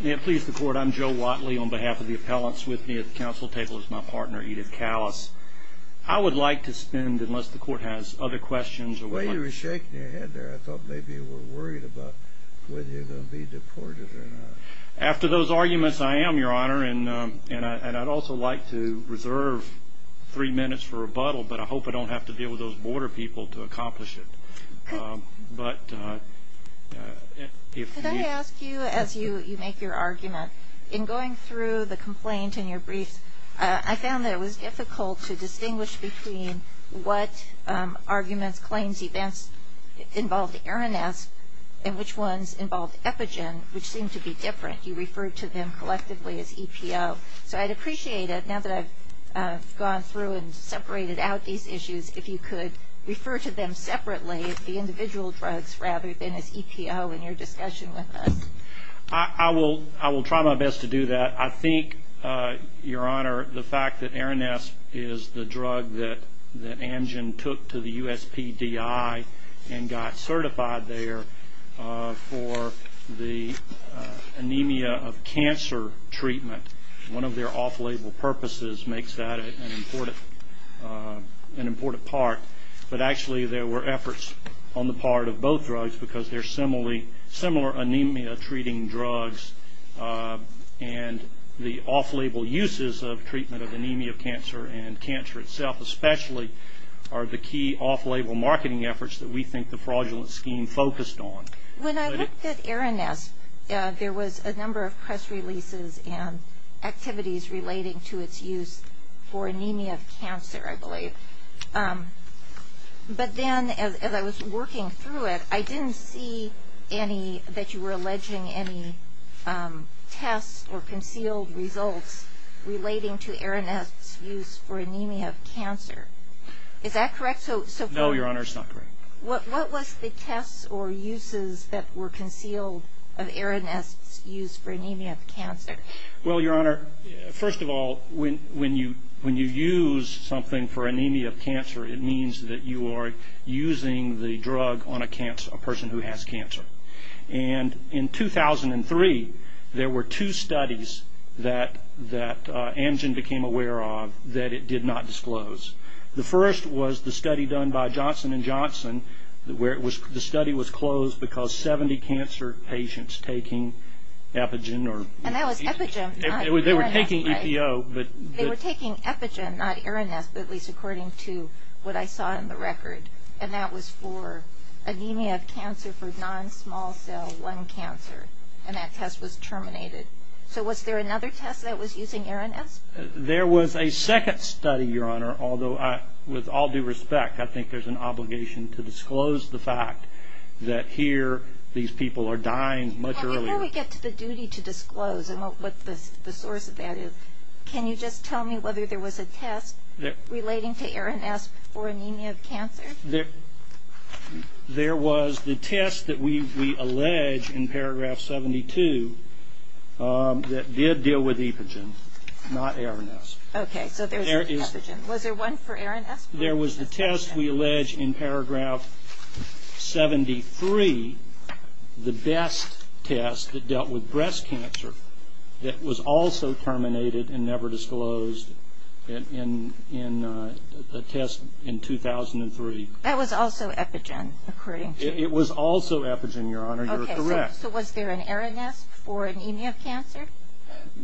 May it please the Court, I'm Joe Watley, on behalf of the appellants with me at the Council table is my partner, Edith Callas. I would like to spend, unless the Court has other questions... Well, you were shaking your head there. I thought maybe you were worried about whether you were going to be deported or not. After those arguments, I am, Your Honor, and I'd also like to reserve three minutes for rebuttal, but I hope I don't have to deal with those border people to accomplish it. Could I ask you, as you make your argument, in going through the complaint in your briefs, I found that it was difficult to distinguish between what arguments, claims, events involved ARINESP and which ones involved EPIGEN, which seemed to be different. You referred to them collectively as EPO. So I'd appreciate it, now that I've gone through and separated out these issues, if you could refer to them separately as the individual drugs rather than as EPO in your discussion with us. I will try my best to do that. I think, Your Honor, the fact that ARINESP is the drug that AMGEN took to the USPDI and got certified there for the anemia of cancer treatment, one of their off-label purposes makes that an important part. But actually, there were efforts on the part of both drugs because they're similar anemia-treating drugs, and the off-label uses of treatment of anemia of cancer and cancer itself, especially, are the key off-label marketing efforts that we think the fraudulent scheme focused on. When I looked at ARINESP, there was a number of press releases and activities relating to its use for anemia of cancer, I believe. But then, as I was working through it, I didn't see that you were alleging any tests or concealed results relating to ARINESP's use for anemia of cancer. Is that correct? No, Your Honor, it's not correct. What was the tests or uses that were concealed of ARINESP's use for anemia of cancer? Well, Your Honor, first of all, when you use something for anemia of cancer, it means that you are using the drug on a person who has cancer. And in 2003, there were two studies that Amgen became aware of that it did not disclose. The first was the study done by Johnson & Johnson where the study was closed because 70 cancer patients taking epigen or... And that was epigen, not ARINESP. They were taking EPO, but... They were taking epigen, not ARINESP, at least according to what I saw in the record. And that was for anemia of cancer for non-small cell lung cancer. And that test was terminated. So was there another test that was using ARINESP? There was a second study, Your Honor, although with all due respect, I think there's an obligation to disclose the fact that here these people are dying much earlier. Before we get to the duty to disclose and what the source of that is, can you just tell me whether there was a test relating to ARINESP for anemia of cancer? There was the test that we allege in paragraph 72 that did deal with epigen, not ARINESP. Okay, so there's epigen. Was there one for ARINESP? There was the test we allege in paragraph 73, the best test that dealt with breast cancer that was also terminated and never disclosed in a test in 2003. That was also epigen, according to you? It was also epigen, Your Honor. You're correct. Okay, so was there an ARINESP for anemia of cancer?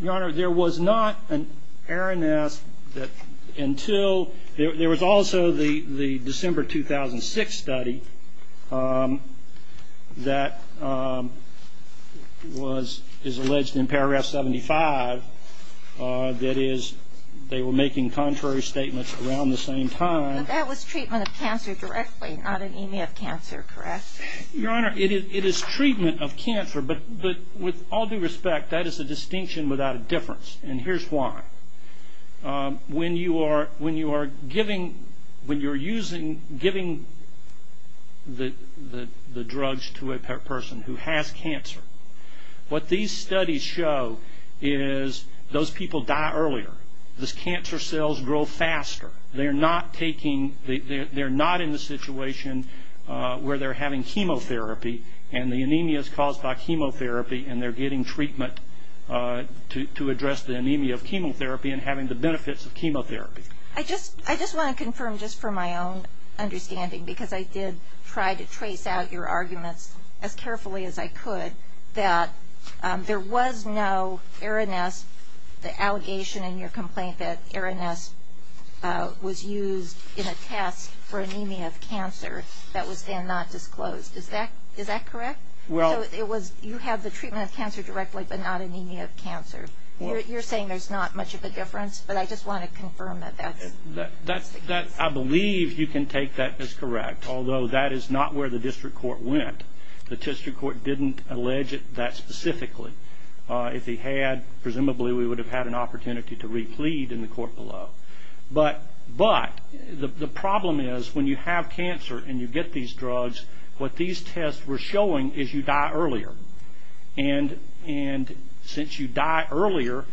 Your Honor, there was not an ARINESP until there was also the December 2006 study that was alleged in paragraph 75. That is, they were making contrary statements around the same time. But that was treatment of cancer directly, not anemia of cancer, correct? Your Honor, it is treatment of cancer, but with all due respect, that is a distinction without a difference, and here's why. When you are giving the drugs to a person who has cancer, what these studies show is those people die earlier. Those cancer cells grow faster. They're not in the situation where they're having chemotherapy, and the anemia is caused by chemotherapy, and they're getting treatment to address the anemia of chemotherapy and having the benefits of chemotherapy. I just want to confirm just for my own understanding, because I did try to trace out your arguments as carefully as I could, that there was no ARINESP, the allegation in your complaint that ARINESP was used in a test for anemia of cancer that was then not disclosed. Is that correct? So you have the treatment of cancer directly, but not anemia of cancer. You're saying there's not much of a difference, but I just want to confirm that that's the case. I believe you can take that as correct, although that is not where the district court went. The district court didn't allege it that specifically. If they had, presumably we would have had an opportunity to re-plead in the court below, but the problem is when you have cancer and you get these drugs, what these tests were showing is you die earlier, and since you die earlier,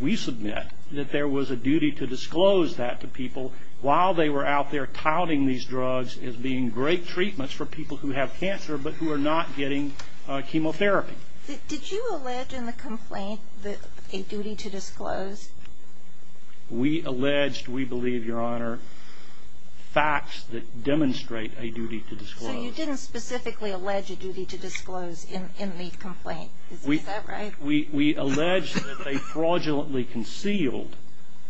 we submit that there was a duty to disclose that to people while they were out there touting these drugs as being great treatments for people who have cancer but who are not getting chemotherapy. Did you allege in the complaint a duty to disclose? We alleged, we believe, Your Honor, facts that demonstrate a duty to disclose. So you didn't specifically allege a duty to disclose in the complaint. Is that right? We allege that they fraudulently concealed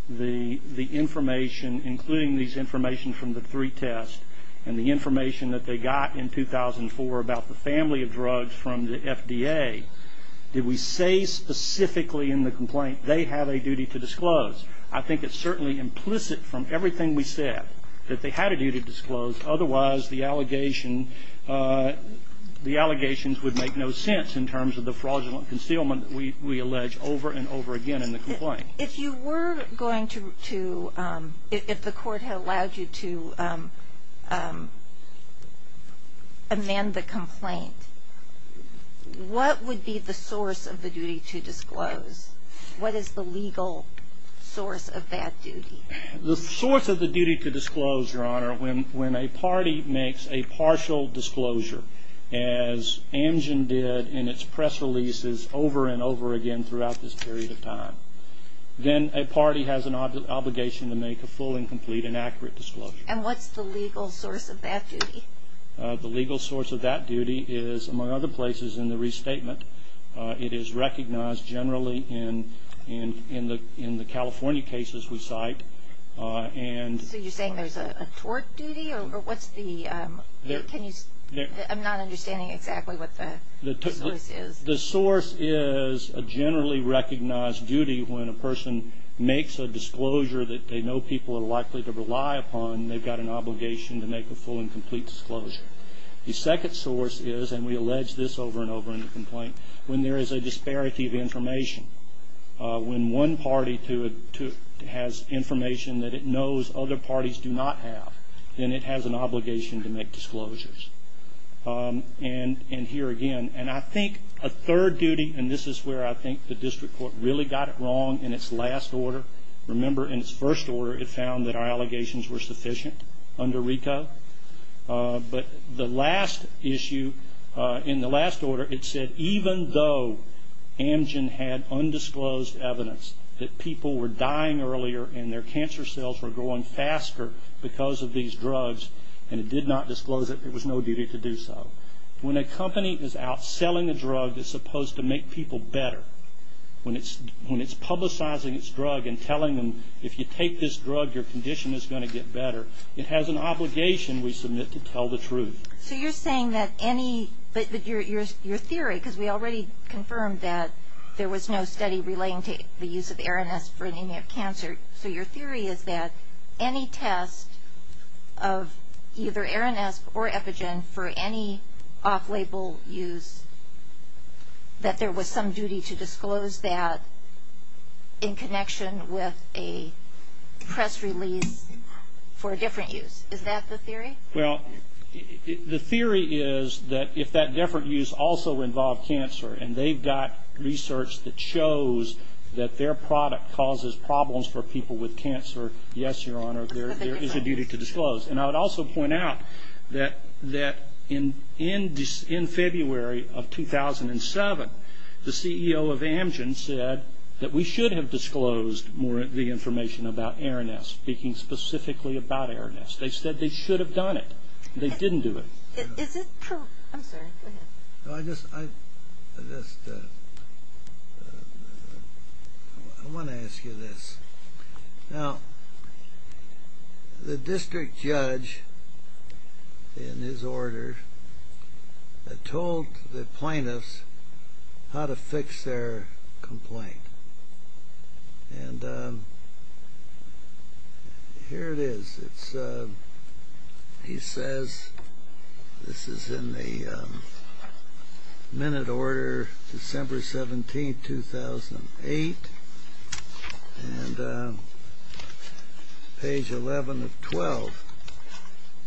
the information, including these information from the three tests and the information that they got in 2004 about the family of drugs from the FDA. Did we say specifically in the complaint they have a duty to disclose? I think it's certainly implicit from everything we said that they had a duty to disclose. Otherwise, the allegations would make no sense in terms of the fraudulent concealment we allege over and over again in the complaint. If you were going to, if the court had allowed you to amend the complaint, what would be the source of the duty to disclose? What is the legal source of that duty? The source of the duty to disclose, Your Honor, when a party makes a partial disclosure, as Amgen did in its press releases over and over again throughout this period of time, then a party has an obligation to make a full and complete and accurate disclosure. And what's the legal source of that duty? The legal source of that duty is, among other places, in the restatement. It is recognized generally in the California cases we cite. So you're saying there's a tort duty? I'm not understanding exactly what the source is. The source is a generally recognized duty when a person makes a disclosure that they know people are likely to rely upon, they've got an obligation to make a full and complete disclosure. The second source is, and we allege this over and over in the complaint, when there is a disparity of information. When one party has information that it knows other parties do not have, then it has an obligation to make disclosures. And here again, and I think a third duty, and this is where I think the district court really got it wrong in its last order. Remember in its first order it found that our allegations were sufficient under RICO. But the last issue, in the last order, it said even though Amgen had undisclosed evidence that people were dying earlier and their cancer cells were growing faster because of these drugs, and it did not disclose it, it was no duty to do so. When a company is out selling a drug that's supposed to make people better, when it's publicizing its drug and telling them if you take this drug your condition is going to get better, it has an obligation, we submit, to tell the truth. So you're saying that any, but your theory, because we already confirmed that there was no study relating to the use of Aranesp for anemia of cancer. So your theory is that any test of either Aranesp or Epigen for any off-label use, that there was some duty to disclose that in connection with a press release for a different use. Is that the theory? Well, the theory is that if that different use also involved cancer, and they've got research that shows that their product causes problems for people with cancer, yes, Your Honor, there is a duty to disclose. And I would also point out that in February of 2007, the CEO of Amgen said that we should have disclosed more of the information about Aranesp, speaking specifically about Aranesp. They said they should have done it. They didn't do it. Is it true? I'm sorry, go ahead. I just want to ask you this. Now, the district judge, in his order, told the plaintiffs how to fix their complaint. And here it is. He says, this is in the minute order, December 17, 2008, and page 11 of 12.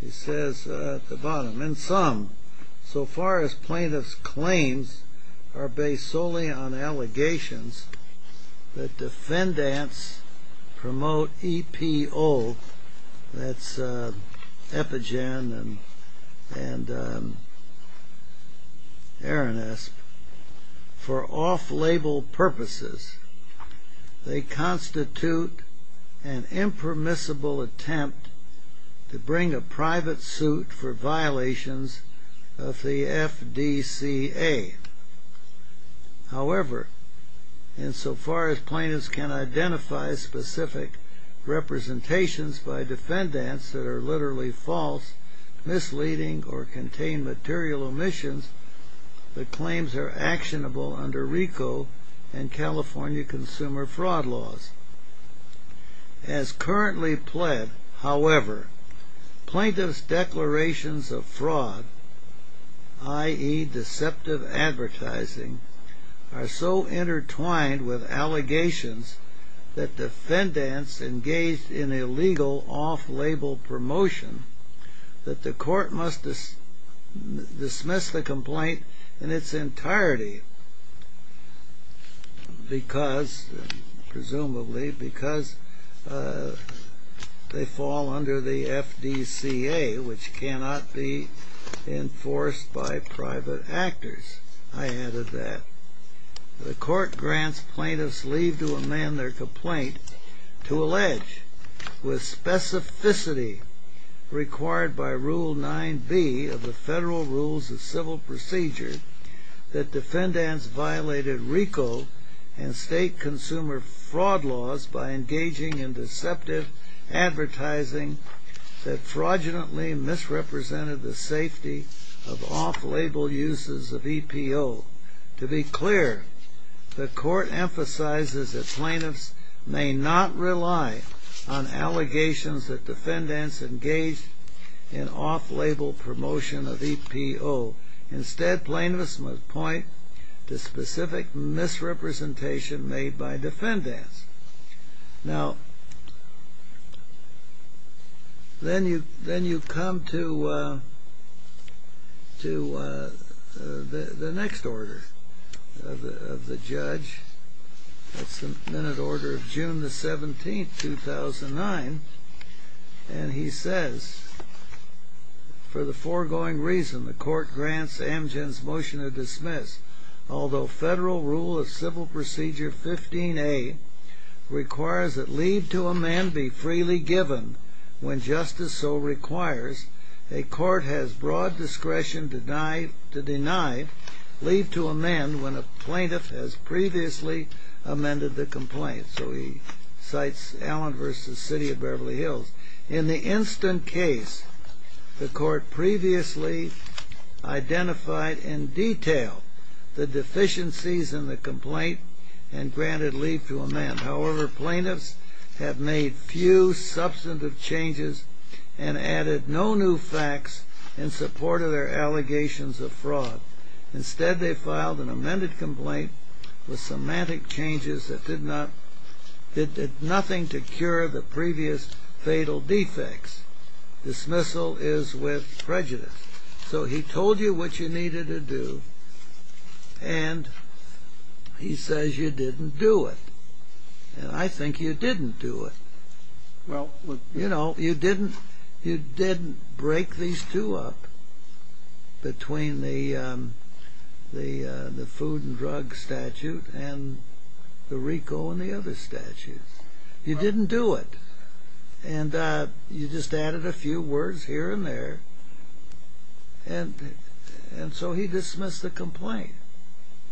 He says at the bottom, So far as plaintiffs' claims are based solely on allegations that defendants promote EPO, that's epigen and Aranesp, for off-label purposes, they constitute an impermissible attempt to bring a private suit for violations of the FDCA. However, insofar as plaintiffs can identify specific representations by defendants that are literally false, misleading, or contain material omissions, the claims are actionable under RICO and California consumer fraud laws. As currently pled, however, plaintiffs' declarations of fraud, i.e. deceptive advertising, are so intertwined with allegations that defendants engaged in illegal off-label promotion that the court must dismiss the complaint in its entirety because, presumably, because they fall under the FDCA, which cannot be enforced by private actors. I added that. The court grants plaintiffs leave to amend their complaint to allege, with specificity required by Rule 9b of the Federal Rules of Civil Procedure, that defendants violated RICO and state consumer fraud laws by engaging in deceptive advertising that fraudulently misrepresented the safety of off-label uses of EPO. To be clear, the court emphasizes that plaintiffs may not rely on allegations that defendants engaged in off-label promotion of EPO. Instead, plaintiffs must point to specific misrepresentation made by defendants. Now, then you come to the next order of the judge. That's the minute order of June 17, 2009. And he says, for the foregoing reason the court grants Amgen's motion to dismiss, although Federal Rule of Civil Procedure 15a requires that leave to amend be freely given when justice so requires, a court has broad discretion to deny leave to amend when a plaintiff has previously amended the complaint. So he cites Allen v. City of Beverly Hills. In the instant case, the court previously identified in detail the deficiencies in the complaint and granted leave to amend. However, plaintiffs have made few substantive changes and added no new facts in support of their allegations of fraud. Instead, they filed an amended complaint with semantic changes that did nothing to cure the previous fatal defects. Dismissal is with prejudice. So he told you what you needed to do, and he says you didn't do it. And I think you didn't do it. You know, you didn't break these two up between the food and drug statute and the RICO and the other statutes. You didn't do it. And you just added a few words here and there. And so he dismissed the complaint.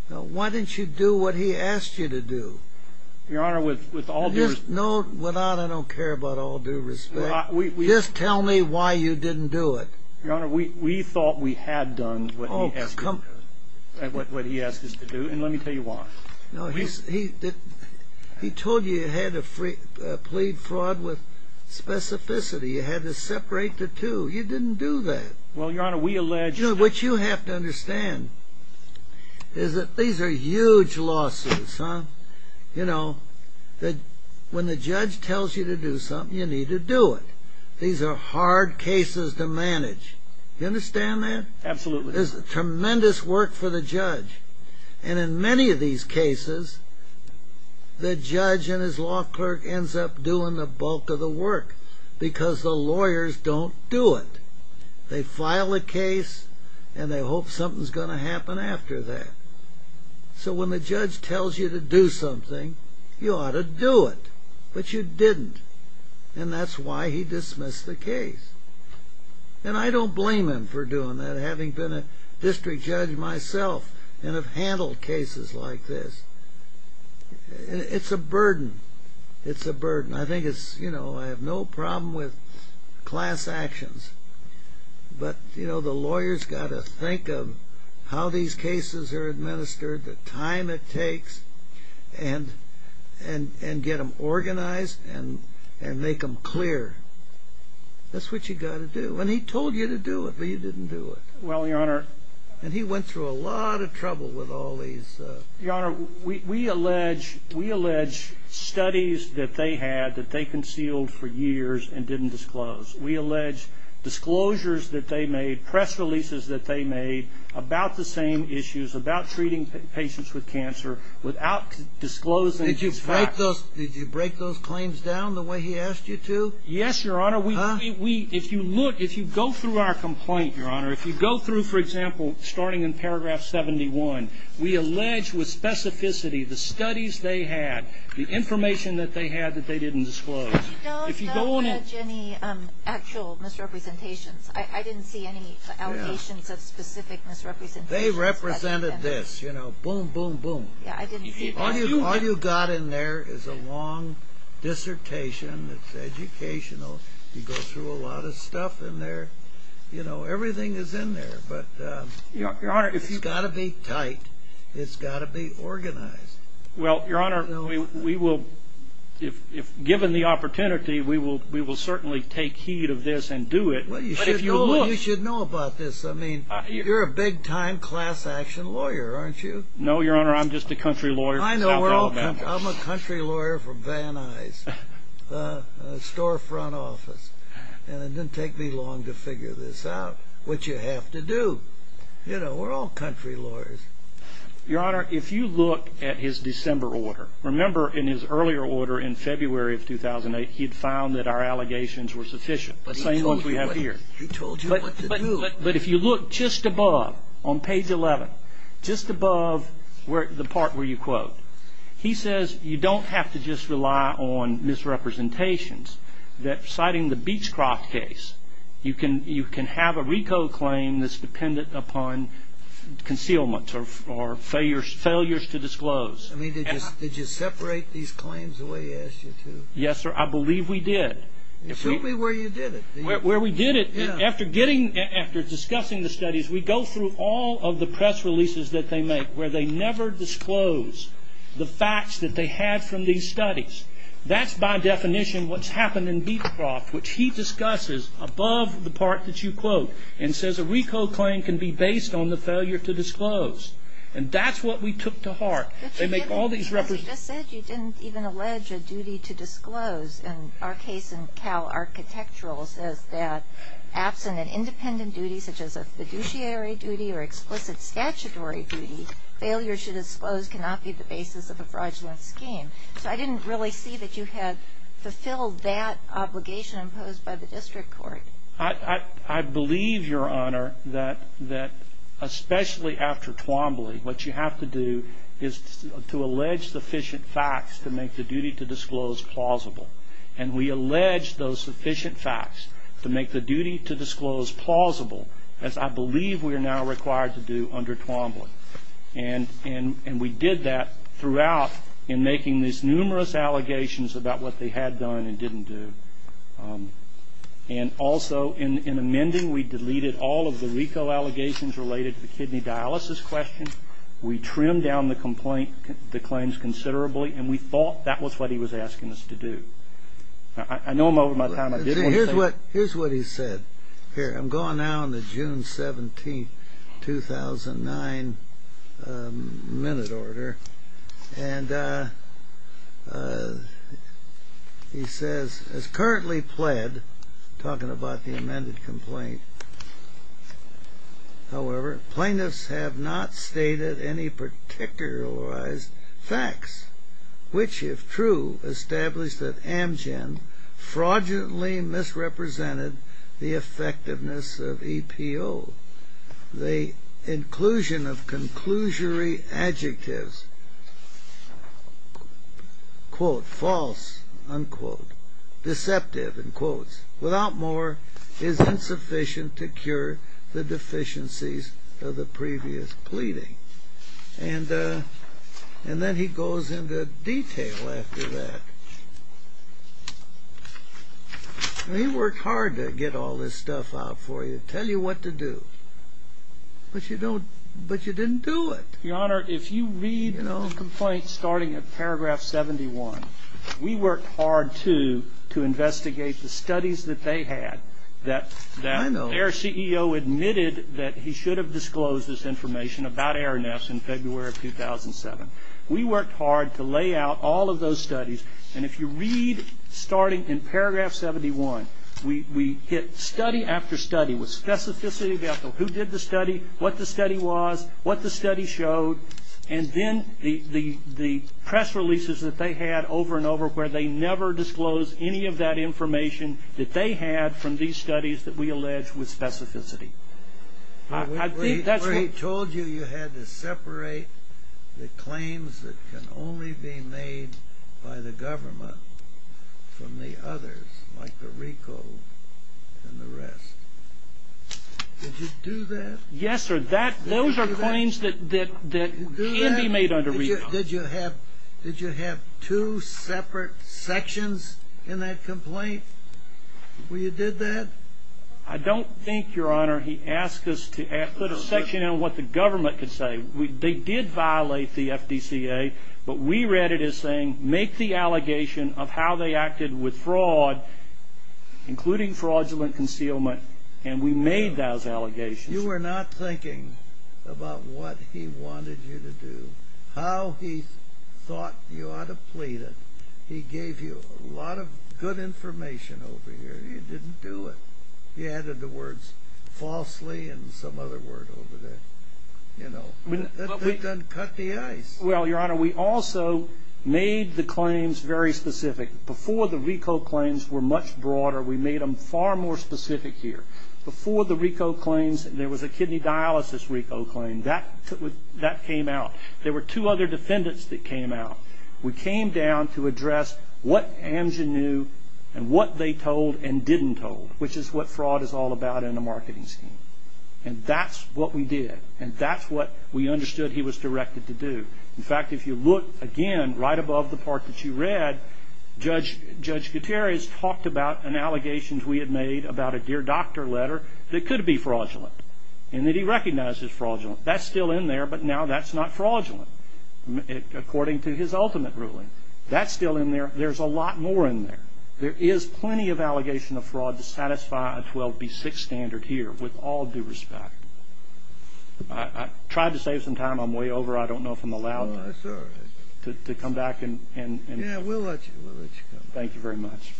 Why didn't you do what he asked you to do? No, I don't care about all due respect. Just tell me why you didn't do it. Your Honor, we thought we had done what he asked us to do, and let me tell you why. He told you you had to plead fraud with specificity. You had to separate the two. You didn't do that. Well, Your Honor, we alleged that. What you have to understand is that these are huge lawsuits. You know, when the judge tells you to do something, you need to do it. These are hard cases to manage. You understand that? Absolutely. There's tremendous work for the judge. And in many of these cases, the judge and his law clerk ends up doing the bulk of the work because the lawyers don't do it. They file a case, and they hope something's going to happen after that. So when the judge tells you to do something, you ought to do it. But you didn't. And that's why he dismissed the case. And I don't blame him for doing that, having been a district judge myself and have handled cases like this. It's a burden. It's a burden. I think it's, you know, I have no problem with class actions. But, you know, the lawyer's got to think of how these cases are administered, the time it takes, and get them organized and make them clear. That's what you've got to do. And he told you to do it, but you didn't do it. Well, Your Honor. And he went through a lot of trouble with all these. Your Honor, we allege studies that they had that they concealed for years and didn't disclose. We allege disclosures that they made, press releases that they made about the same issues, about treating patients with cancer without disclosing these facts. Did you break those claims down the way he asked you to? Yes, Your Honor. If you look, if you go through our complaint, Your Honor, if you go through, for example, starting in paragraph 71, we allege with specificity the studies they had, the information that they had that they didn't disclose. No, we don't allege any actual misrepresentations. I didn't see any allegations of specific misrepresentations. They represented this, you know, boom, boom, boom. Yeah, I didn't see that. All you've got in there is a long dissertation that's educational. You go through a lot of stuff in there. You know, everything is in there, but it's got to be tight. It's got to be organized. Well, Your Honor, we will, if given the opportunity, we will certainly take heed of this and do it. Well, you should know about this. I mean, you're a big-time class-action lawyer, aren't you? No, Your Honor, I'm just a country lawyer. I know, we're all country. I'm a country lawyer from Van Nuys, storefront office, and it didn't take me long to figure this out, which you have to do. You know, we're all country lawyers. Your Honor, if you look at his December order, remember in his earlier order in February of 2008, he had found that our allegations were sufficient, the same ones we have here. He told you what to do. But if you look just above, on page 11, just above the part where you quote, he says you don't have to just rely on misrepresentations, that citing the Beechcroft case, you can have a RICO claim that's dependent upon concealment or failures to disclose. I mean, did you separate these claims the way he asked you to? Yes, sir, I believe we did. Show me where you did it. Where we did it, after discussing the studies, we go through all of the press releases that they make where they never disclose the facts that they had from these studies. That's by definition what's happened in Beechcroft, which he discusses above the part that you quote and says a RICO claim can be based on the failure to disclose. And that's what we took to heart. They make all these representations. But you just said you didn't even allege a duty to disclose. And our case in Cal Architectural says that absent an independent duty such as a fiduciary duty or explicit statutory duty, failure to disclose cannot be the basis of a fraudulent scheme. So I didn't really see that you had fulfilled that obligation imposed by the district court. I believe, Your Honor, that especially after Twombly, what you have to do is to allege sufficient facts to make the duty to disclose plausible. And we allege those sufficient facts to make the duty to disclose plausible, as I believe we are now required to do under Twombly. And we did that throughout in making these numerous allegations about what they had done and didn't do. And also in amending, we deleted all of the RICO allegations related to the kidney dialysis question. We trimmed down the claims considerably, and we thought that was what he was asking us to do. I know I'm over my time. Here's what he said. Here, I'm going now in the June 17, 2009, minute order. And he says, as currently pled, talking about the amended complaint, however, plaintiffs have not stated any particularized facts, which, if true, establish that Amgen fraudulently misrepresented the effectiveness of EPO. The inclusion of conclusory adjectives, quote, false, unquote, deceptive, in quotes, without more is insufficient to cure the deficiencies of the previous pleading. And then he goes into detail after that. He worked hard to get all this stuff out for you, tell you what to do. But you didn't do it. Your Honor, if you read the complaint starting at paragraph 71, we worked hard, too, to investigate the studies that they had, that AERCEO admitted that he should have disclosed this information about AERNEFS in February of 2007. We worked hard to lay out all of those studies. And if you read starting in paragraph 71, we hit study after study with specificity about who did the study, what the study was, what the study showed, and then the press releases that they had over and over, where they never disclosed any of that information that they had from these studies that we allege with specificity. I think that's what... He told you you had to separate the claims that can only be made by the government from the others, like the RICO and the rest. Did you do that? Yes, sir. Those are claims that can be made under RICO. Did you have two separate sections in that complaint where you did that? I don't think, Your Honor, he asked us to put a section in what the government could say. They did violate the FDCA, but we read it as saying, make the allegation of how they acted with fraud, including fraudulent concealment, and we made those allegations. You were not thinking about what he wanted you to do, how he thought you ought to plead it. He gave you a lot of good information over here. You didn't do it. He added the words falsely and some other word over there. That doesn't cut the ice. Well, Your Honor, we also made the claims very specific. Before, the RICO claims were much broader. We made them far more specific here. Before the RICO claims, there was a kidney dialysis RICO claim. That came out. There were two other defendants that came out. We came down to address what Amgen knew and what they told and didn't told, which is what fraud is all about in a marketing scheme. And that's what we did, and that's what we understood he was directed to do. In fact, if you look again right above the part that you read, Judge Gutierrez talked about an allegation we had made about a dear doctor letter that could be fraudulent and that he recognized as fraudulent. That's still in there, but now that's not fraudulent, according to his ultimate ruling. That's still in there. There's a lot more in there. There is plenty of allegation of fraud to satisfy a 12B6 standard here, with all due respect. I tried to save some time. I'm way over. I don't know if I'm allowed to come back. Yeah, we'll let you go. Thank you very much.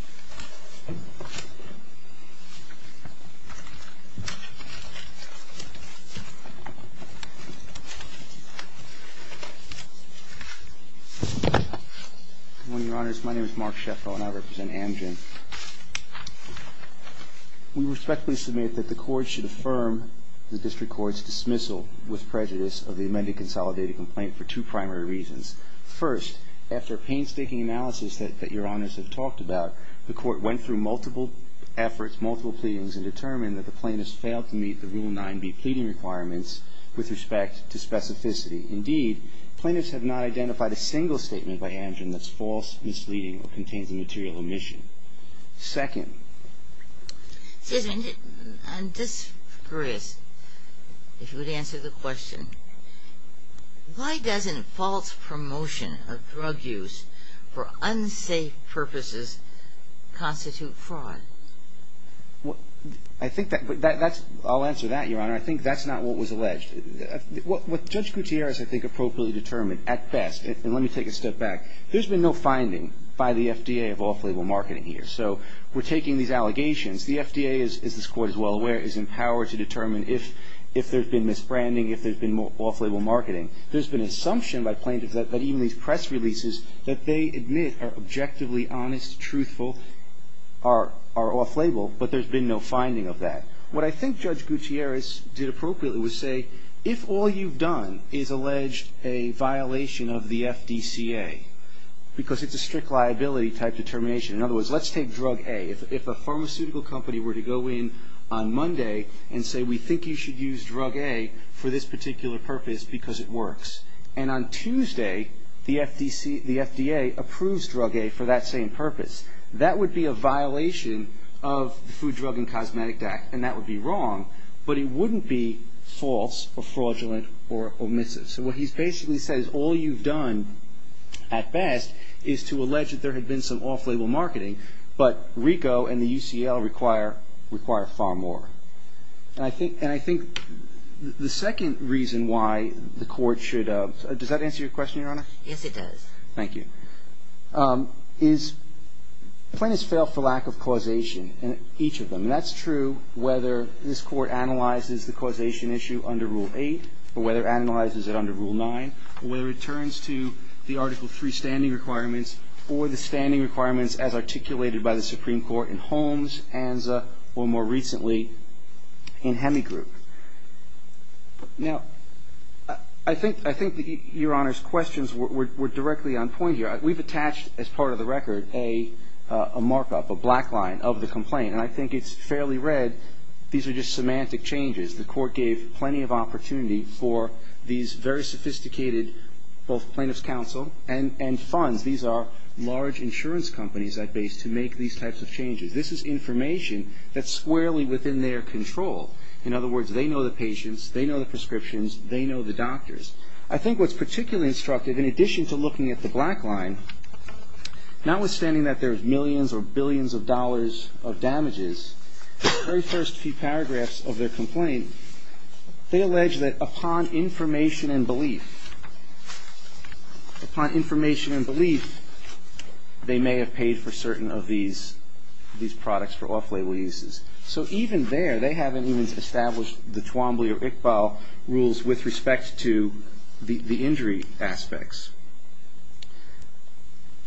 Good morning, Your Honors. My name is Mark Sheffro, and I represent Amgen. We respectfully submit that the Court should affirm the District Court's dismissal with prejudice of the amended consolidated complaint for two primary reasons. First, after painstaking analysis that Your Honors have talked about, the Court went through multiple efforts, multiple pleadings, and determined that the plaintiffs failed to meet the Rule 9B pleading requirements with respect to specificity. Indeed, plaintiffs have not identified a single statement by Amgen that's false, misleading, or contains a material omission. Second... Excuse me. And just, Chris, if you would answer the question, why doesn't false promotion of drug use for unsafe purposes constitute fraud? I think that's... I'll answer that, Your Honor. I think that's not what was alleged. What Judge Gutierrez, I think, appropriately determined, at best, and let me take a step back, there's been no finding by the FDA of off-label marketing here. So we're taking these allegations. The FDA, as this Court is well aware, is empowered to determine if there's been misbranding, if there's been off-label marketing. There's been assumption by plaintiffs that even these press releases that they admit are objectively honest, truthful, are off-label, but there's been no finding of that. What I think Judge Gutierrez did appropriately was say, if all you've done is allege a violation of the FDCA, because it's a strict liability type determination, in other words, let's take drug A. If a pharmaceutical company were to go in on Monday and say, we think you should use drug A for this particular purpose because it works, and on Tuesday the FDA approves drug A for that same purpose, that would be a violation of the Food, Drug, and Cosmetic Act, and that would be wrong, but it wouldn't be false or fraudulent or omissive. So what he basically says, all you've done, at best, is to allege that there had been some off-label marketing, but RICO and the UCL require far more. And I think the second reason why the Court should, does that answer your question, Your Honor? Yes, it does. Thank you. Plaintiffs fail for lack of causation in each of them. And that's true whether this Court analyzes the causation issue under Rule 8, or whether it analyzes it under Rule 9, or whether it turns to the Article III standing requirements or the standing requirements as articulated by the Supreme Court in Holmes, Anza, or more recently in Hemigroup. Now, I think Your Honor's questions were directly on point here. We've attached, as part of the record, a markup, a black line of the complaint, and I think it's fairly red. These are just semantic changes. The Court gave plenty of opportunity for these very sophisticated, both plaintiff's counsel and funds. These are large insurance companies, at best, to make these types of changes. This is information that's squarely within their control. In other words, they know the patients, they know the prescriptions, they know the doctors. I think what's particularly instructive, in addition to looking at the black line, notwithstanding that there's millions or billions of dollars of damages, the very first few paragraphs of their complaint, they allege that upon information and belief, upon information and belief, they may have paid for certain of these products for off-label uses. So even there, they haven't even established the Twombly or Iqbal rules with respect to the injury aspects.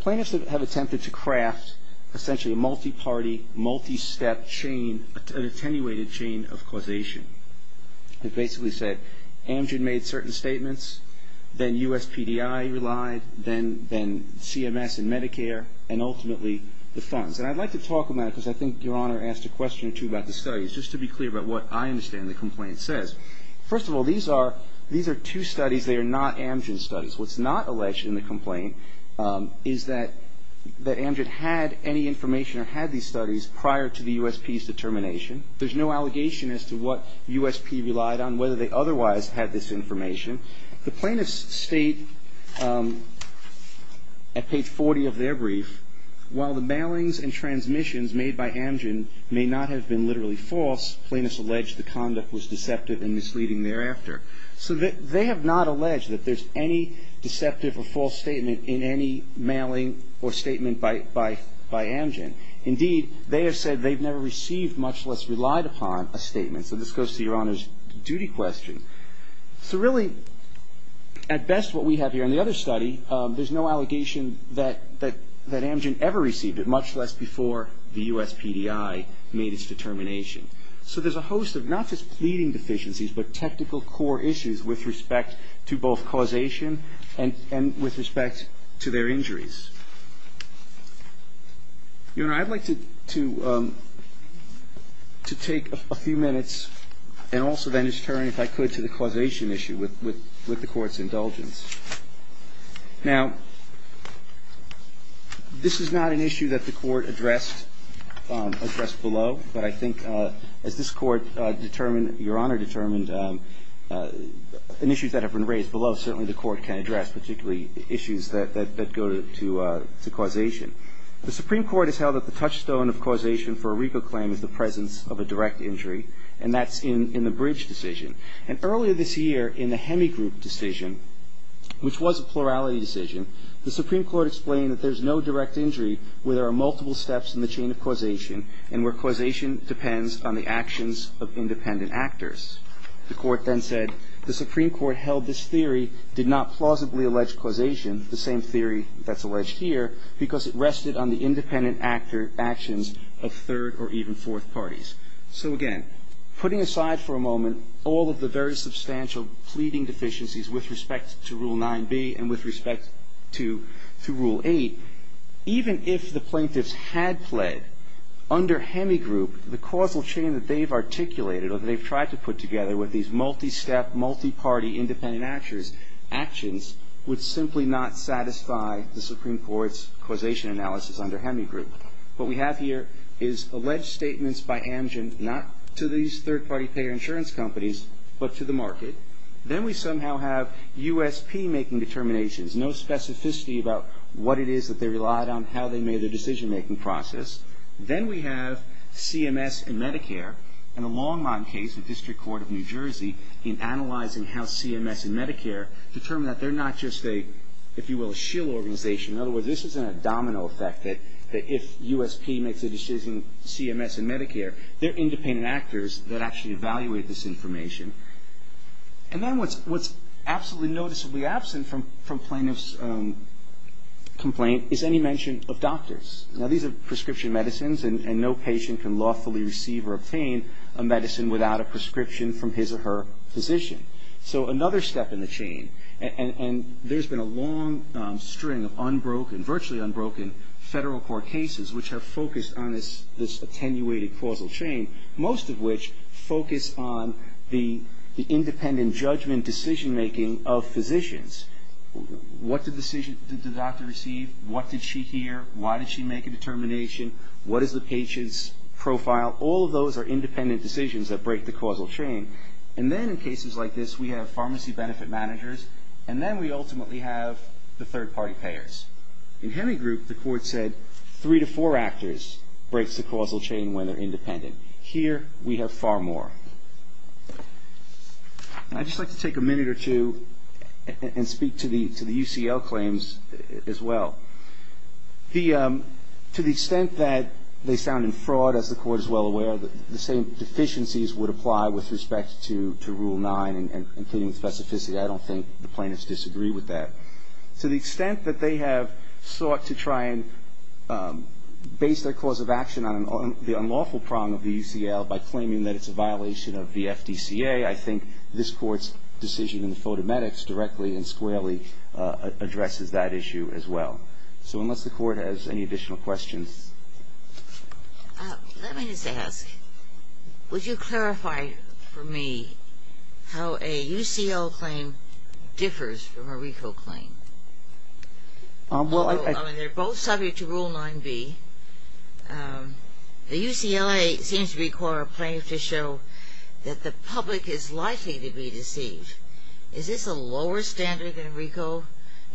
Plaintiffs have attempted to craft, essentially, a multi-party, multi-step chain, an attenuated chain of causation. It basically said, Amgen made certain statements, then USPDI relied, then CMS and Medicare, and ultimately the funds. And I'd like to talk about it, because I think Your Honor asked a question or two about the studies, just to be clear about what I understand the complaint says. First of all, these are two studies that are not Amgen studies. What's not alleged in the complaint is that Amgen had any information or had these studies prior to the USP's determination. There's no allegation as to what USP relied on, whether they otherwise had this information. The plaintiffs state, at page 40 of their brief, while the mailings and transmissions made by Amgen may not have been literally false, plaintiffs allege the conduct was deceptive and misleading thereafter. So they have not alleged that there's any deceptive or false statement in any mailing or statement by Amgen. Indeed, they have said they've never received, much less relied upon, a statement. So this goes to Your Honor's duty question. So really, at best, what we have here in the other study, there's no allegation that Amgen ever received it, much less before the USPDI made its determination. So there's a host of not just pleading deficiencies, but technical core issues with respect to both causation and with respect to their injuries. Your Honor, I'd like to take a few minutes and also then just turn, if I could, to the causation issue with the Court's indulgence. Now, this is not an issue that the Court addressed below, but I think as this Court determined, Your Honor determined, and issues that have been raised below, certainly the Court can address, particularly issues that go to causation. The Supreme Court has held that the touchstone of causation for a RICO claim is the presence of a direct injury, and that's in the Bridge decision. And earlier this year, in the Hemigroup decision, which was a plurality decision, the Supreme Court explained that there's no direct injury where there are multiple steps in the chain of causation and where causation depends on the actions of independent actors. The Court then said the Supreme Court held this theory did not plausibly allege causation, the same theory that's alleged here, because it rested on the independent actions of third or even fourth parties. So again, putting aside for a moment all of the very substantial pleading deficiencies with respect to Rule 9b and with respect to Rule 8, even if the plaintiffs had pled under Hemigroup, the causal chain that they've articulated or that they've tried to put together with these multi-step, multi-party independent actions would simply not satisfy the Supreme Court's causation analysis under Hemigroup. What we have here is alleged statements by Amgen, not to these third-party payer insurance companies, but to the market. Then we somehow have USP making determinations, no specificity about what it is that they relied on, how they made their decision-making process. Then we have CMS and Medicare, and a long-running case with District Court of New Jersey in analyzing how CMS and Medicare determine that they're not just a, if you will, a shill organization. In other words, this isn't a domino effect that if USP makes a decision, CMS and Medicare, they're independent actors that actually evaluate this information. And then what's absolutely noticeably absent from plaintiff's complaint is any mention of doctors. Now, these are prescription medicines, and no patient can lawfully receive or obtain a medicine without a prescription from his or her physician. So another step in the chain, and there's been a long string of virtually unbroken Federal Court cases which have focused on this attenuated causal chain, most of which focus on the independent judgment decision-making of physicians. What decision did the doctor receive? What did she hear? Why did she make a determination? What is the patient's profile? All of those are independent decisions that break the causal chain. And then in cases like this, we have pharmacy benefit managers, and then we ultimately have the third-party payers. In Hemigroup, the Court said three to four actors breaks the causal chain when they're independent. Here, we have far more. I'd just like to take a minute or two and speak to the UCL claims as well. To the extent that they sound in fraud, as the Court is well aware, the same deficiencies would apply with respect to Rule 9, including the specificity. I don't think the plaintiffs disagree with that. To the extent that they have sought to try and base their cause of action on the unlawful prong of the UCL by claiming that it's a violation of the FDCA, I think this Court's decision in the photometrics directly and squarely addresses that issue as well. So unless the Court has any additional questions. Let me just ask, would you clarify for me how a UCL claim differs from a RICO claim? They're both subject to Rule 9b. The UCLA seems to require a plaintiff to show that the public is likely to be deceived. Is this a lower standard than RICO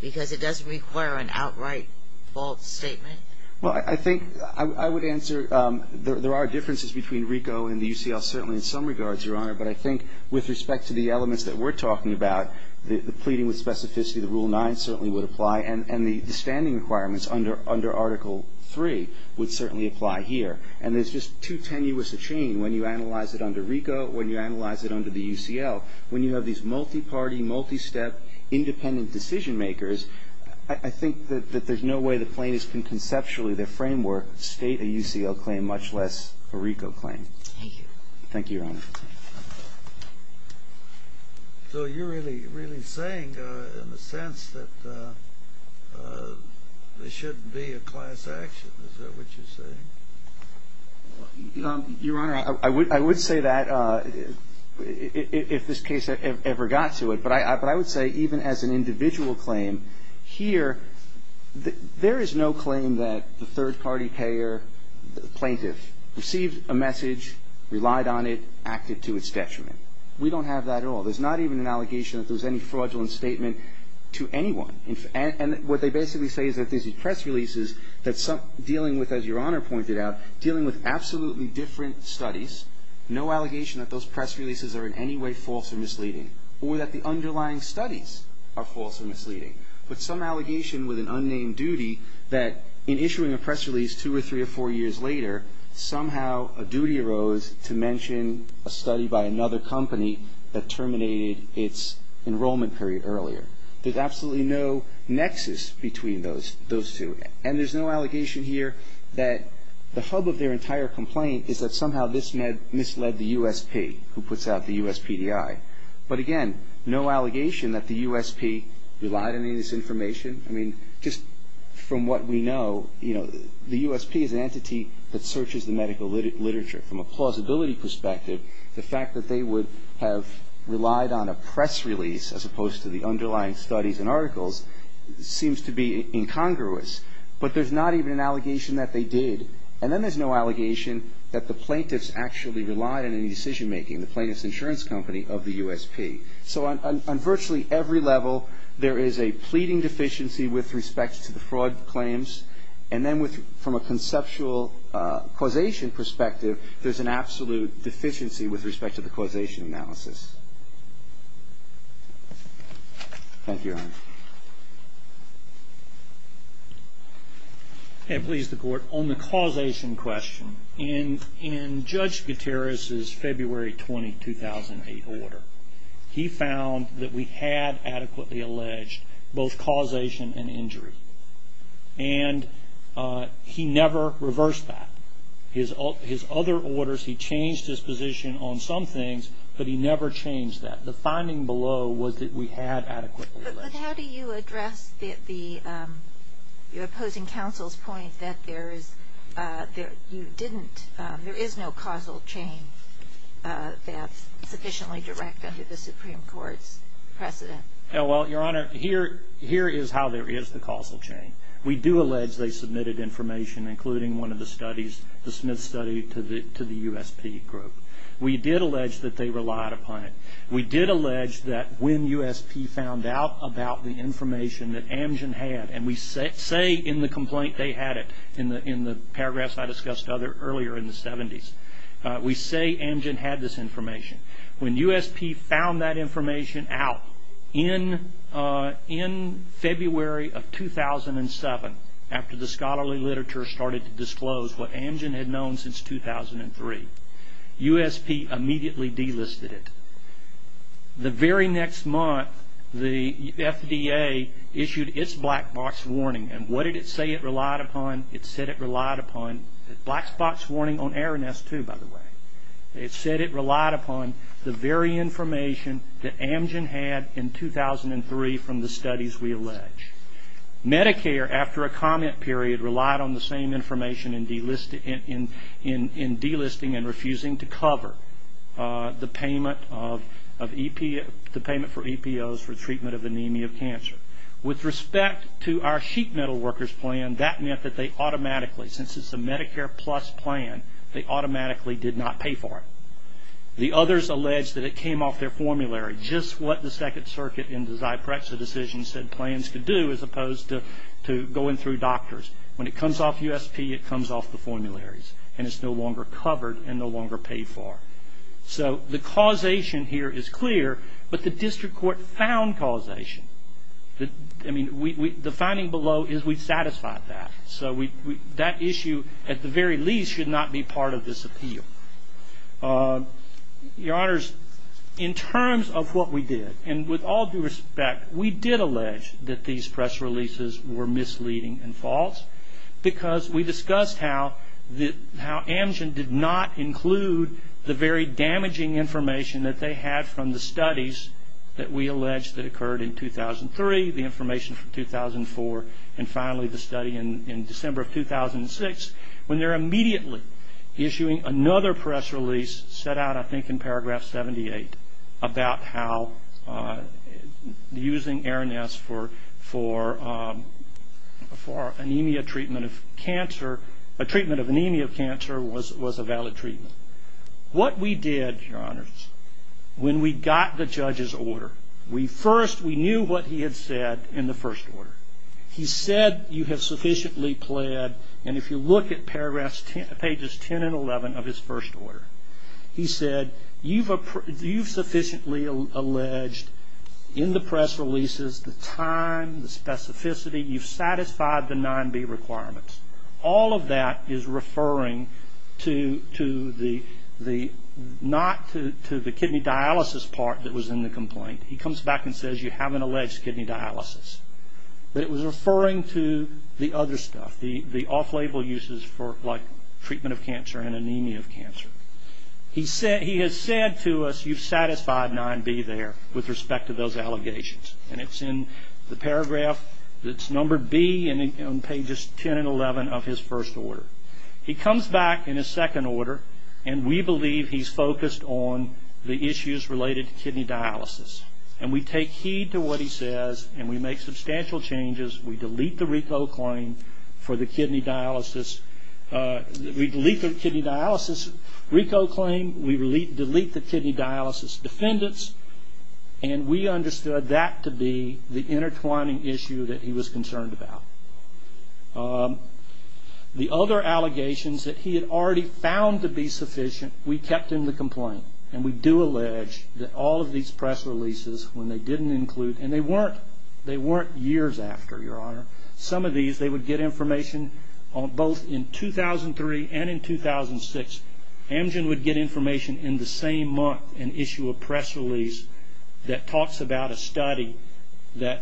because it doesn't require an outright false statement? Well, I think I would answer there are differences between RICO and the UCL, certainly in some regards, Your Honor, but I think with respect to the elements that we're talking about, the pleading with specificity of the Rule 9 certainly would apply, and the standing requirements under Article 3 would certainly apply here. And there's just too tenuous a chain when you analyze it under RICO, when you analyze it under the UCL. When you have these multi-party, multi-step, independent decision-makers, I think that there's no way the plaintiffs can conceptually, their framework, state a UCL claim much less a RICO claim. Thank you. Thank you, Your Honor. So you're really saying, in a sense, that there shouldn't be a class action. Is that what you're saying? Your Honor, I would say that if this case ever got to it, but I would say even as an individual claim, here there is no claim that the third-party payer plaintiff received a message, relied on it, acted to its detriment. We don't have that at all. There's not even an allegation that there's any fraudulent statement to anyone. And what they basically say is that these press releases, that dealing with, as Your Honor pointed out, dealing with absolutely different studies, no allegation that those press releases are in any way false or misleading, or that the underlying studies are false or misleading, but some allegation with an unnamed duty that in issuing a press release two or three or four years later, somehow a duty arose to mention a study by another company that terminated its enrollment period earlier. There's absolutely no nexus between those two. And there's no allegation here that the hub of their entire complaint is that somehow this misled the USP who puts out the USPDI. But, again, no allegation that the USP relied on any of this information. I mean, just from what we know, you know, the USP is an entity that searches the medical literature. From a plausibility perspective, the fact that they would have relied on a press release as opposed to the underlying studies and articles seems to be incongruous. But there's not even an allegation that they did. And then there's no allegation that the plaintiffs actually relied on any decision-making, the plaintiff's insurance company of the USP. So on virtually every level, there is a pleading deficiency with respect to the fraud claims. And then from a conceptual causation perspective, there's an absolute deficiency with respect to the causation analysis. Thank you, Your Honor. And please, the Court, on the causation question, in Judge Gutierrez's February 20, 2008 order, he found that we had adequately alleged both causation and injury. And he never reversed that. His other orders, he changed his position on some things, but he never changed that. The finding below was that we had adequately alleged. But how do you address the opposing counsel's point that there is no causal chain that's sufficiently direct under the Supreme Court's precedent? Well, Your Honor, here is how there is the causal chain. We do allege they submitted information, including one of the studies, the Smith study, to the USP group. We did allege that they relied upon it. We did allege that when USP found out about the information that Amgen had, and we say in the complaint they had it, in the paragraphs I discussed earlier in the 70s, we say Amgen had this information. When USP found that information out in February of 2007, after the scholarly literature started to disclose what Amgen had known since 2003, USP immediately delisted it. The very next month, the FDA issued its black box warning, and what did it say it relied upon? It said it relied upon the black box warning on Aroness, too, by the way. It said it relied upon the very information that Amgen had in 2003 from the studies we allege. Medicare, after a comment period, relied on the same information in delisting and refusing to cover the payment for EPOs for treatment of anemia of cancer. With respect to our sheet metal workers plan, that meant that they automatically, since it's a Medicare Plus plan, they automatically did not pay for it. The others allege that it came off their formulary, just what the Second Circuit in the Zyprexa decision said plans could do, as opposed to going through doctors. When it comes off USP, it comes off the formularies, and it's no longer covered and no longer paid for. So the causation here is clear, but the district court found causation. I mean, the finding below is we satisfied that. So that issue, at the very least, should not be part of this appeal. Your Honors, in terms of what we did, and with all due respect, we did allege that these press releases were misleading and false, because we discussed how Amgen did not include the very damaging information that they had from the studies that we allege that occurred in 2003, the information from 2004, and finally the study in December of 2006, when they're immediately issuing another press release set out, I think in paragraph 78, about how using Aaron S. for anemia treatment of cancer, a treatment of anemia of cancer, was a valid treatment. What we did, Your Honors, when we got the judge's order, we knew what he had said in the first order. He said you have sufficiently pled, and if you look at pages 10 and 11 of his first order, he said you've sufficiently alleged in the press releases the time, the specificity, you've satisfied the 9B requirements. All of that is referring to the, not to the kidney dialysis part that was in the complaint. He comes back and says you haven't alleged kidney dialysis. But it was referring to the other stuff, the off-label uses for like treatment of cancer and anemia of cancer. He has said to us you've satisfied 9B there with respect to those allegations. And it's in the paragraph, it's number B on pages 10 and 11 of his first order. He comes back in his second order, and we believe he's focused on the issues related to kidney dialysis. And we take heed to what he says, and we make substantial changes. We delete the RICO claim for the kidney dialysis. We delete the kidney dialysis RICO claim. We delete the kidney dialysis defendants. And we understood that to be the intertwining issue that he was concerned about. The other allegations that he had already found to be sufficient, we kept in the complaint. And we do allege that all of these press releases, when they didn't include, and they weren't years after, Your Honor, some of these they would get information on both in 2003 and in 2006. Amgen would get information in the same month and issue a press release that talks about a study that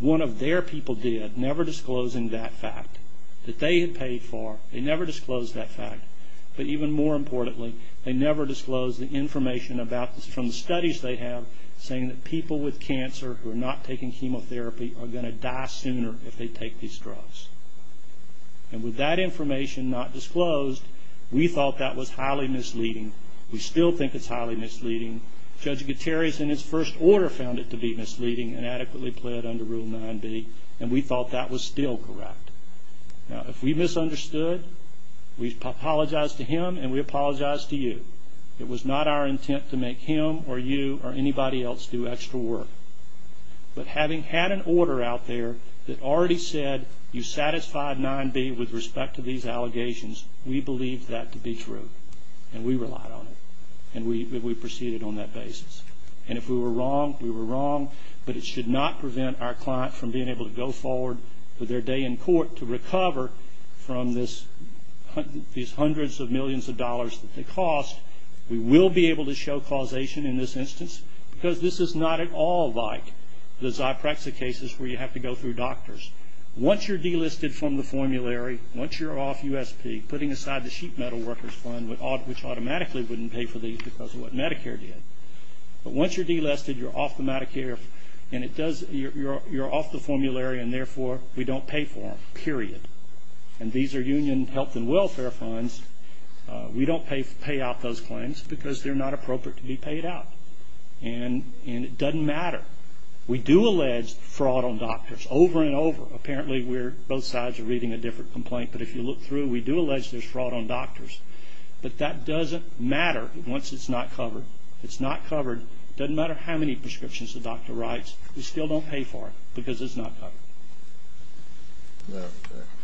one of their people did, never disclosing that fact, that they had paid for. They never disclosed that fact. But even more importantly, they never disclosed the information from the studies they have saying that people with cancer who are not taking chemotherapy are going to die sooner if they take these drugs. And with that information not disclosed, we thought that was highly misleading. We still think it's highly misleading. Judge Gutierrez, in his first order, found it to be misleading and adequately pled under Rule 9b. And we thought that was still correct. Now, if we misunderstood, we apologize to him and we apologize to you. It was not our intent to make him or you or anybody else do extra work. But having had an order out there that already said you satisfied 9b with respect to these allegations, we believed that to be true. And we relied on it. And we proceeded on that basis. And if we were wrong, we were wrong. But it should not prevent our client from being able to go forward with their day in court to recover from these hundreds of millions of dollars that they cost, we will be able to show causation in this instance because this is not at all like the Zyprexa cases where you have to go through doctors. Once you're delisted from the formulary, once you're off USP, putting aside the Sheet Metal Workers Fund, which automatically wouldn't pay for these because of what Medicare did. But once you're delisted, you're off the Medicare, and you're off the formulary, and therefore we don't pay for them, period. And these are union health and welfare funds. We don't pay out those claims because they're not appropriate to be paid out. And it doesn't matter. We do allege fraud on doctors over and over. Apparently both sides are reading a different complaint. But if you look through, we do allege there's fraud on doctors. But that doesn't matter once it's not covered. It's not covered. It doesn't matter how many prescriptions the doctor writes. We still don't pay for it because it's not covered.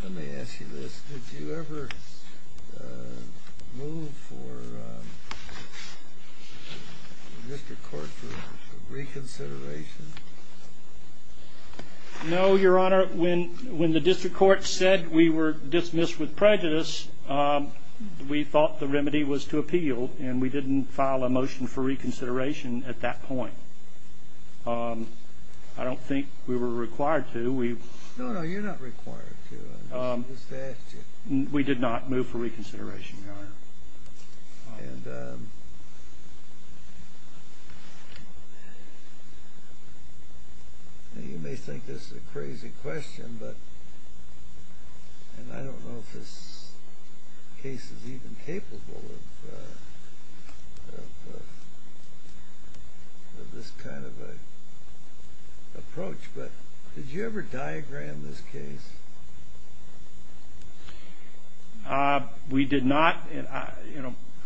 Let me ask you this. Did you ever move for the district court for reconsideration? No, Your Honor. When the district court said we were dismissed with prejudice, we thought the remedy was to appeal, and we didn't file a motion for reconsideration at that point. I don't think we were required to. No, no, you're not required to. We did not move for reconsideration, Your Honor. And you may think this is a crazy question, and I don't know if this case is even capable of this kind of an approach, but did you ever diagram this case? We did not.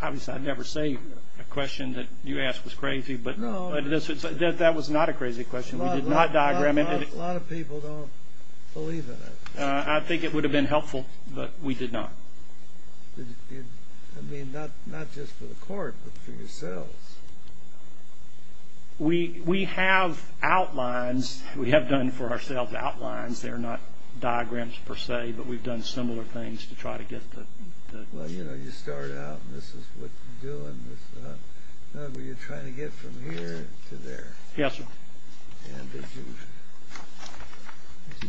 Obviously, I never say a question that you ask was crazy, but that was not a crazy question. We did not diagram it. A lot of people don't believe in it. I think it would have been helpful, but we did not. I mean, not just for the court, but for yourselves. We have outlines. We have done for ourselves outlines. They're not diagrams per se, but we've done similar things to try to get the... Well, you know, you start out, and this is what you're doing. Were you trying to get from here to there? Yes, sir. And did you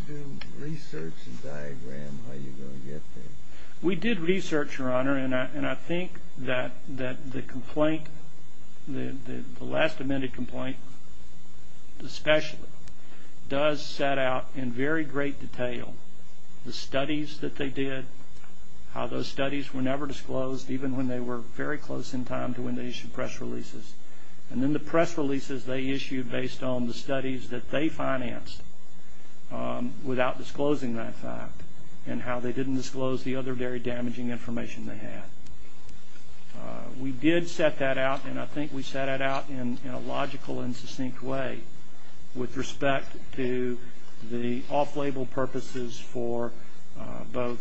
do research and diagram how you were going to get there? We did research, Your Honor, and I think that the complaint, the last amended complaint especially, does set out in very great detail the studies that they did, how those studies were never disclosed, even when they were very close in time to when they issued press releases. And then the press releases they issued based on the studies that they financed, without disclosing that fact, and how they didn't disclose the other very damaging information they had. We did set that out, and I think we set it out in a logical and succinct way, with respect to the off-label purposes for both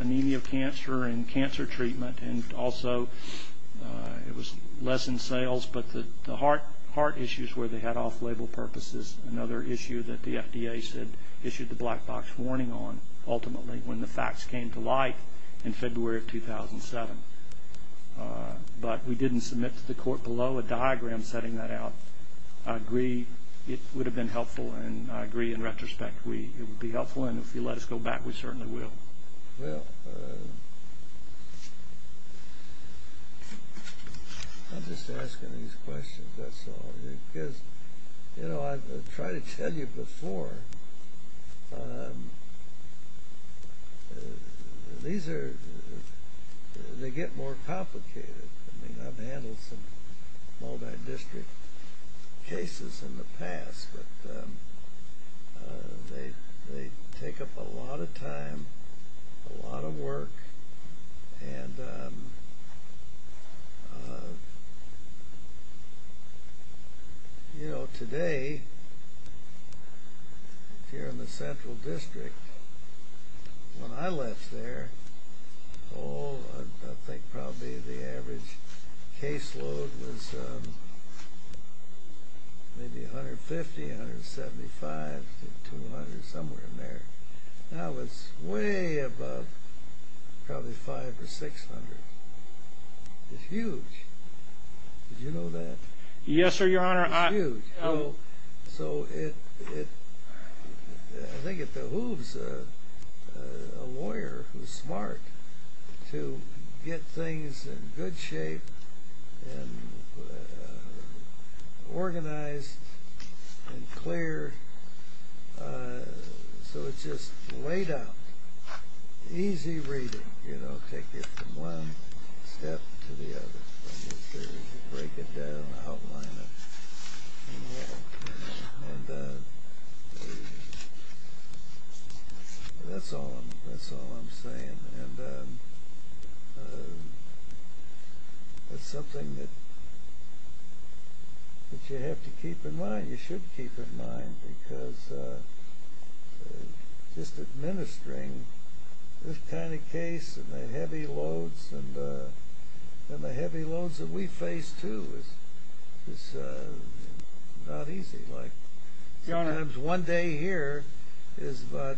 anemia of cancer and cancer treatment, and also it was less in sales, but the heart issues where they had off-label purposes, another issue that the FDA issued the black box warning on, ultimately, when the facts came to light in February of 2007. But we didn't submit to the court below a diagram setting that out. I agree it would have been helpful, and I agree in retrospect it would be helpful, and if you let us go back, we certainly will. I'm just asking these questions, that's all. Because, you know, I tried to tell you before, these are, they get more complicated. I mean, I've handled some multi-district cases in the past, but they take up a lot of time, a lot of work, and, you know, today, here in the Central District, when I left there, oh, I think probably the average caseload was maybe 150, 175, 200, somewhere in there. Now it's way above, probably 500 or 600. It's huge. Did you know that? Yes, sir, Your Honor. It's huge. So it, I think it behooves a lawyer who's smart to get things in good shape and organized and clear, so it's just laid out, easy reading, you know, take it from one step to the other, break it down, outline it, and that's all I'm saying. And it's something that you have to keep in mind, you should keep in mind, because just administering this kind of case and the heavy loads, and the heavy loads that we face, too, is not easy. Sometimes one day here is about,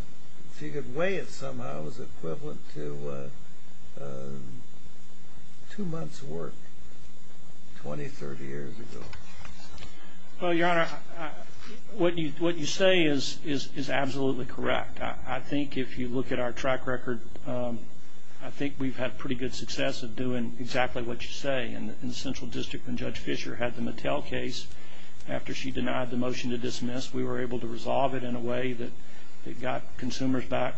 if you could weigh it somehow, is equivalent to two months' work 20, 30 years ago. Well, Your Honor, what you say is absolutely correct. I think if you look at our track record, I think we've had pretty good success at doing exactly what you say. In the central district when Judge Fischer had the Mattel case, after she denied the motion to dismiss, we were able to resolve it in a way that it got consumers back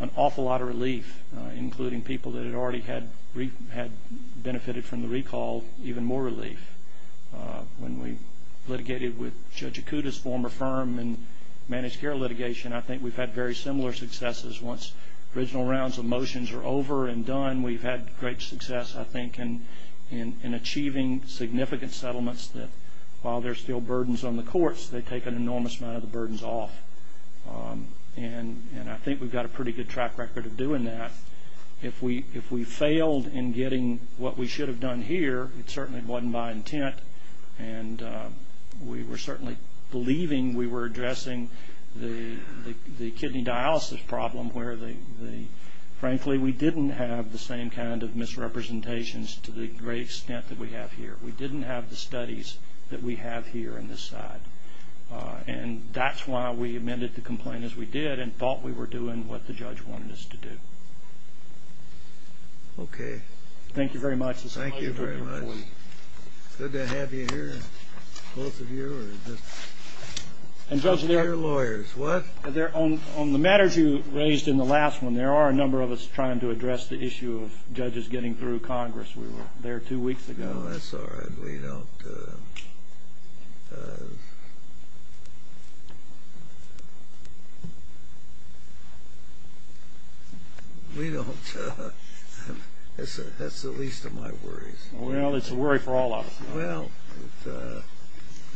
an awful lot of relief, including people that had already benefited from the recall, even more relief. When we litigated with Judge Acuda's former firm in managed care litigation, I think we've had very similar successes. Once original rounds of motions are over and done, we've had great success, I think, in achieving significant settlements that, while there's still burdens on the courts, they take an enormous amount of the burdens off. And I think we've got a pretty good track record of doing that. If we failed in getting what we should have done here, it certainly wasn't my intent, and we were certainly believing we were addressing the kidney dialysis problem, where, frankly, we didn't have the same kind of misrepresentations to the great extent that we have here. We didn't have the studies that we have here on this side. And that's why we amended the complaint as we did and thought we were doing what the judge wanted us to do. Okay. Thank you very much. Thank you very much. It's good to have you here, both of you. And Judge, they're lawyers. What? On the matters you raised in the last one, there are a number of us trying to address the issue of judges getting through Congress. We were there two weeks ago. No, that's all right. We don't. We don't. That's the least of my worries. Well, it's a worry for all of us. Well,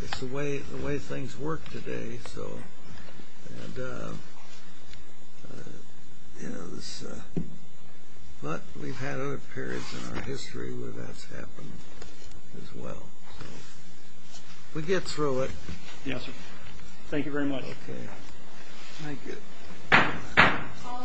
it's the way things work today. But we've had other periods in our history where that's happened as well. We'll get through it. Yes, sir. Thank you very much. Okay. Thank you. All rise. This court has a second time adjourned.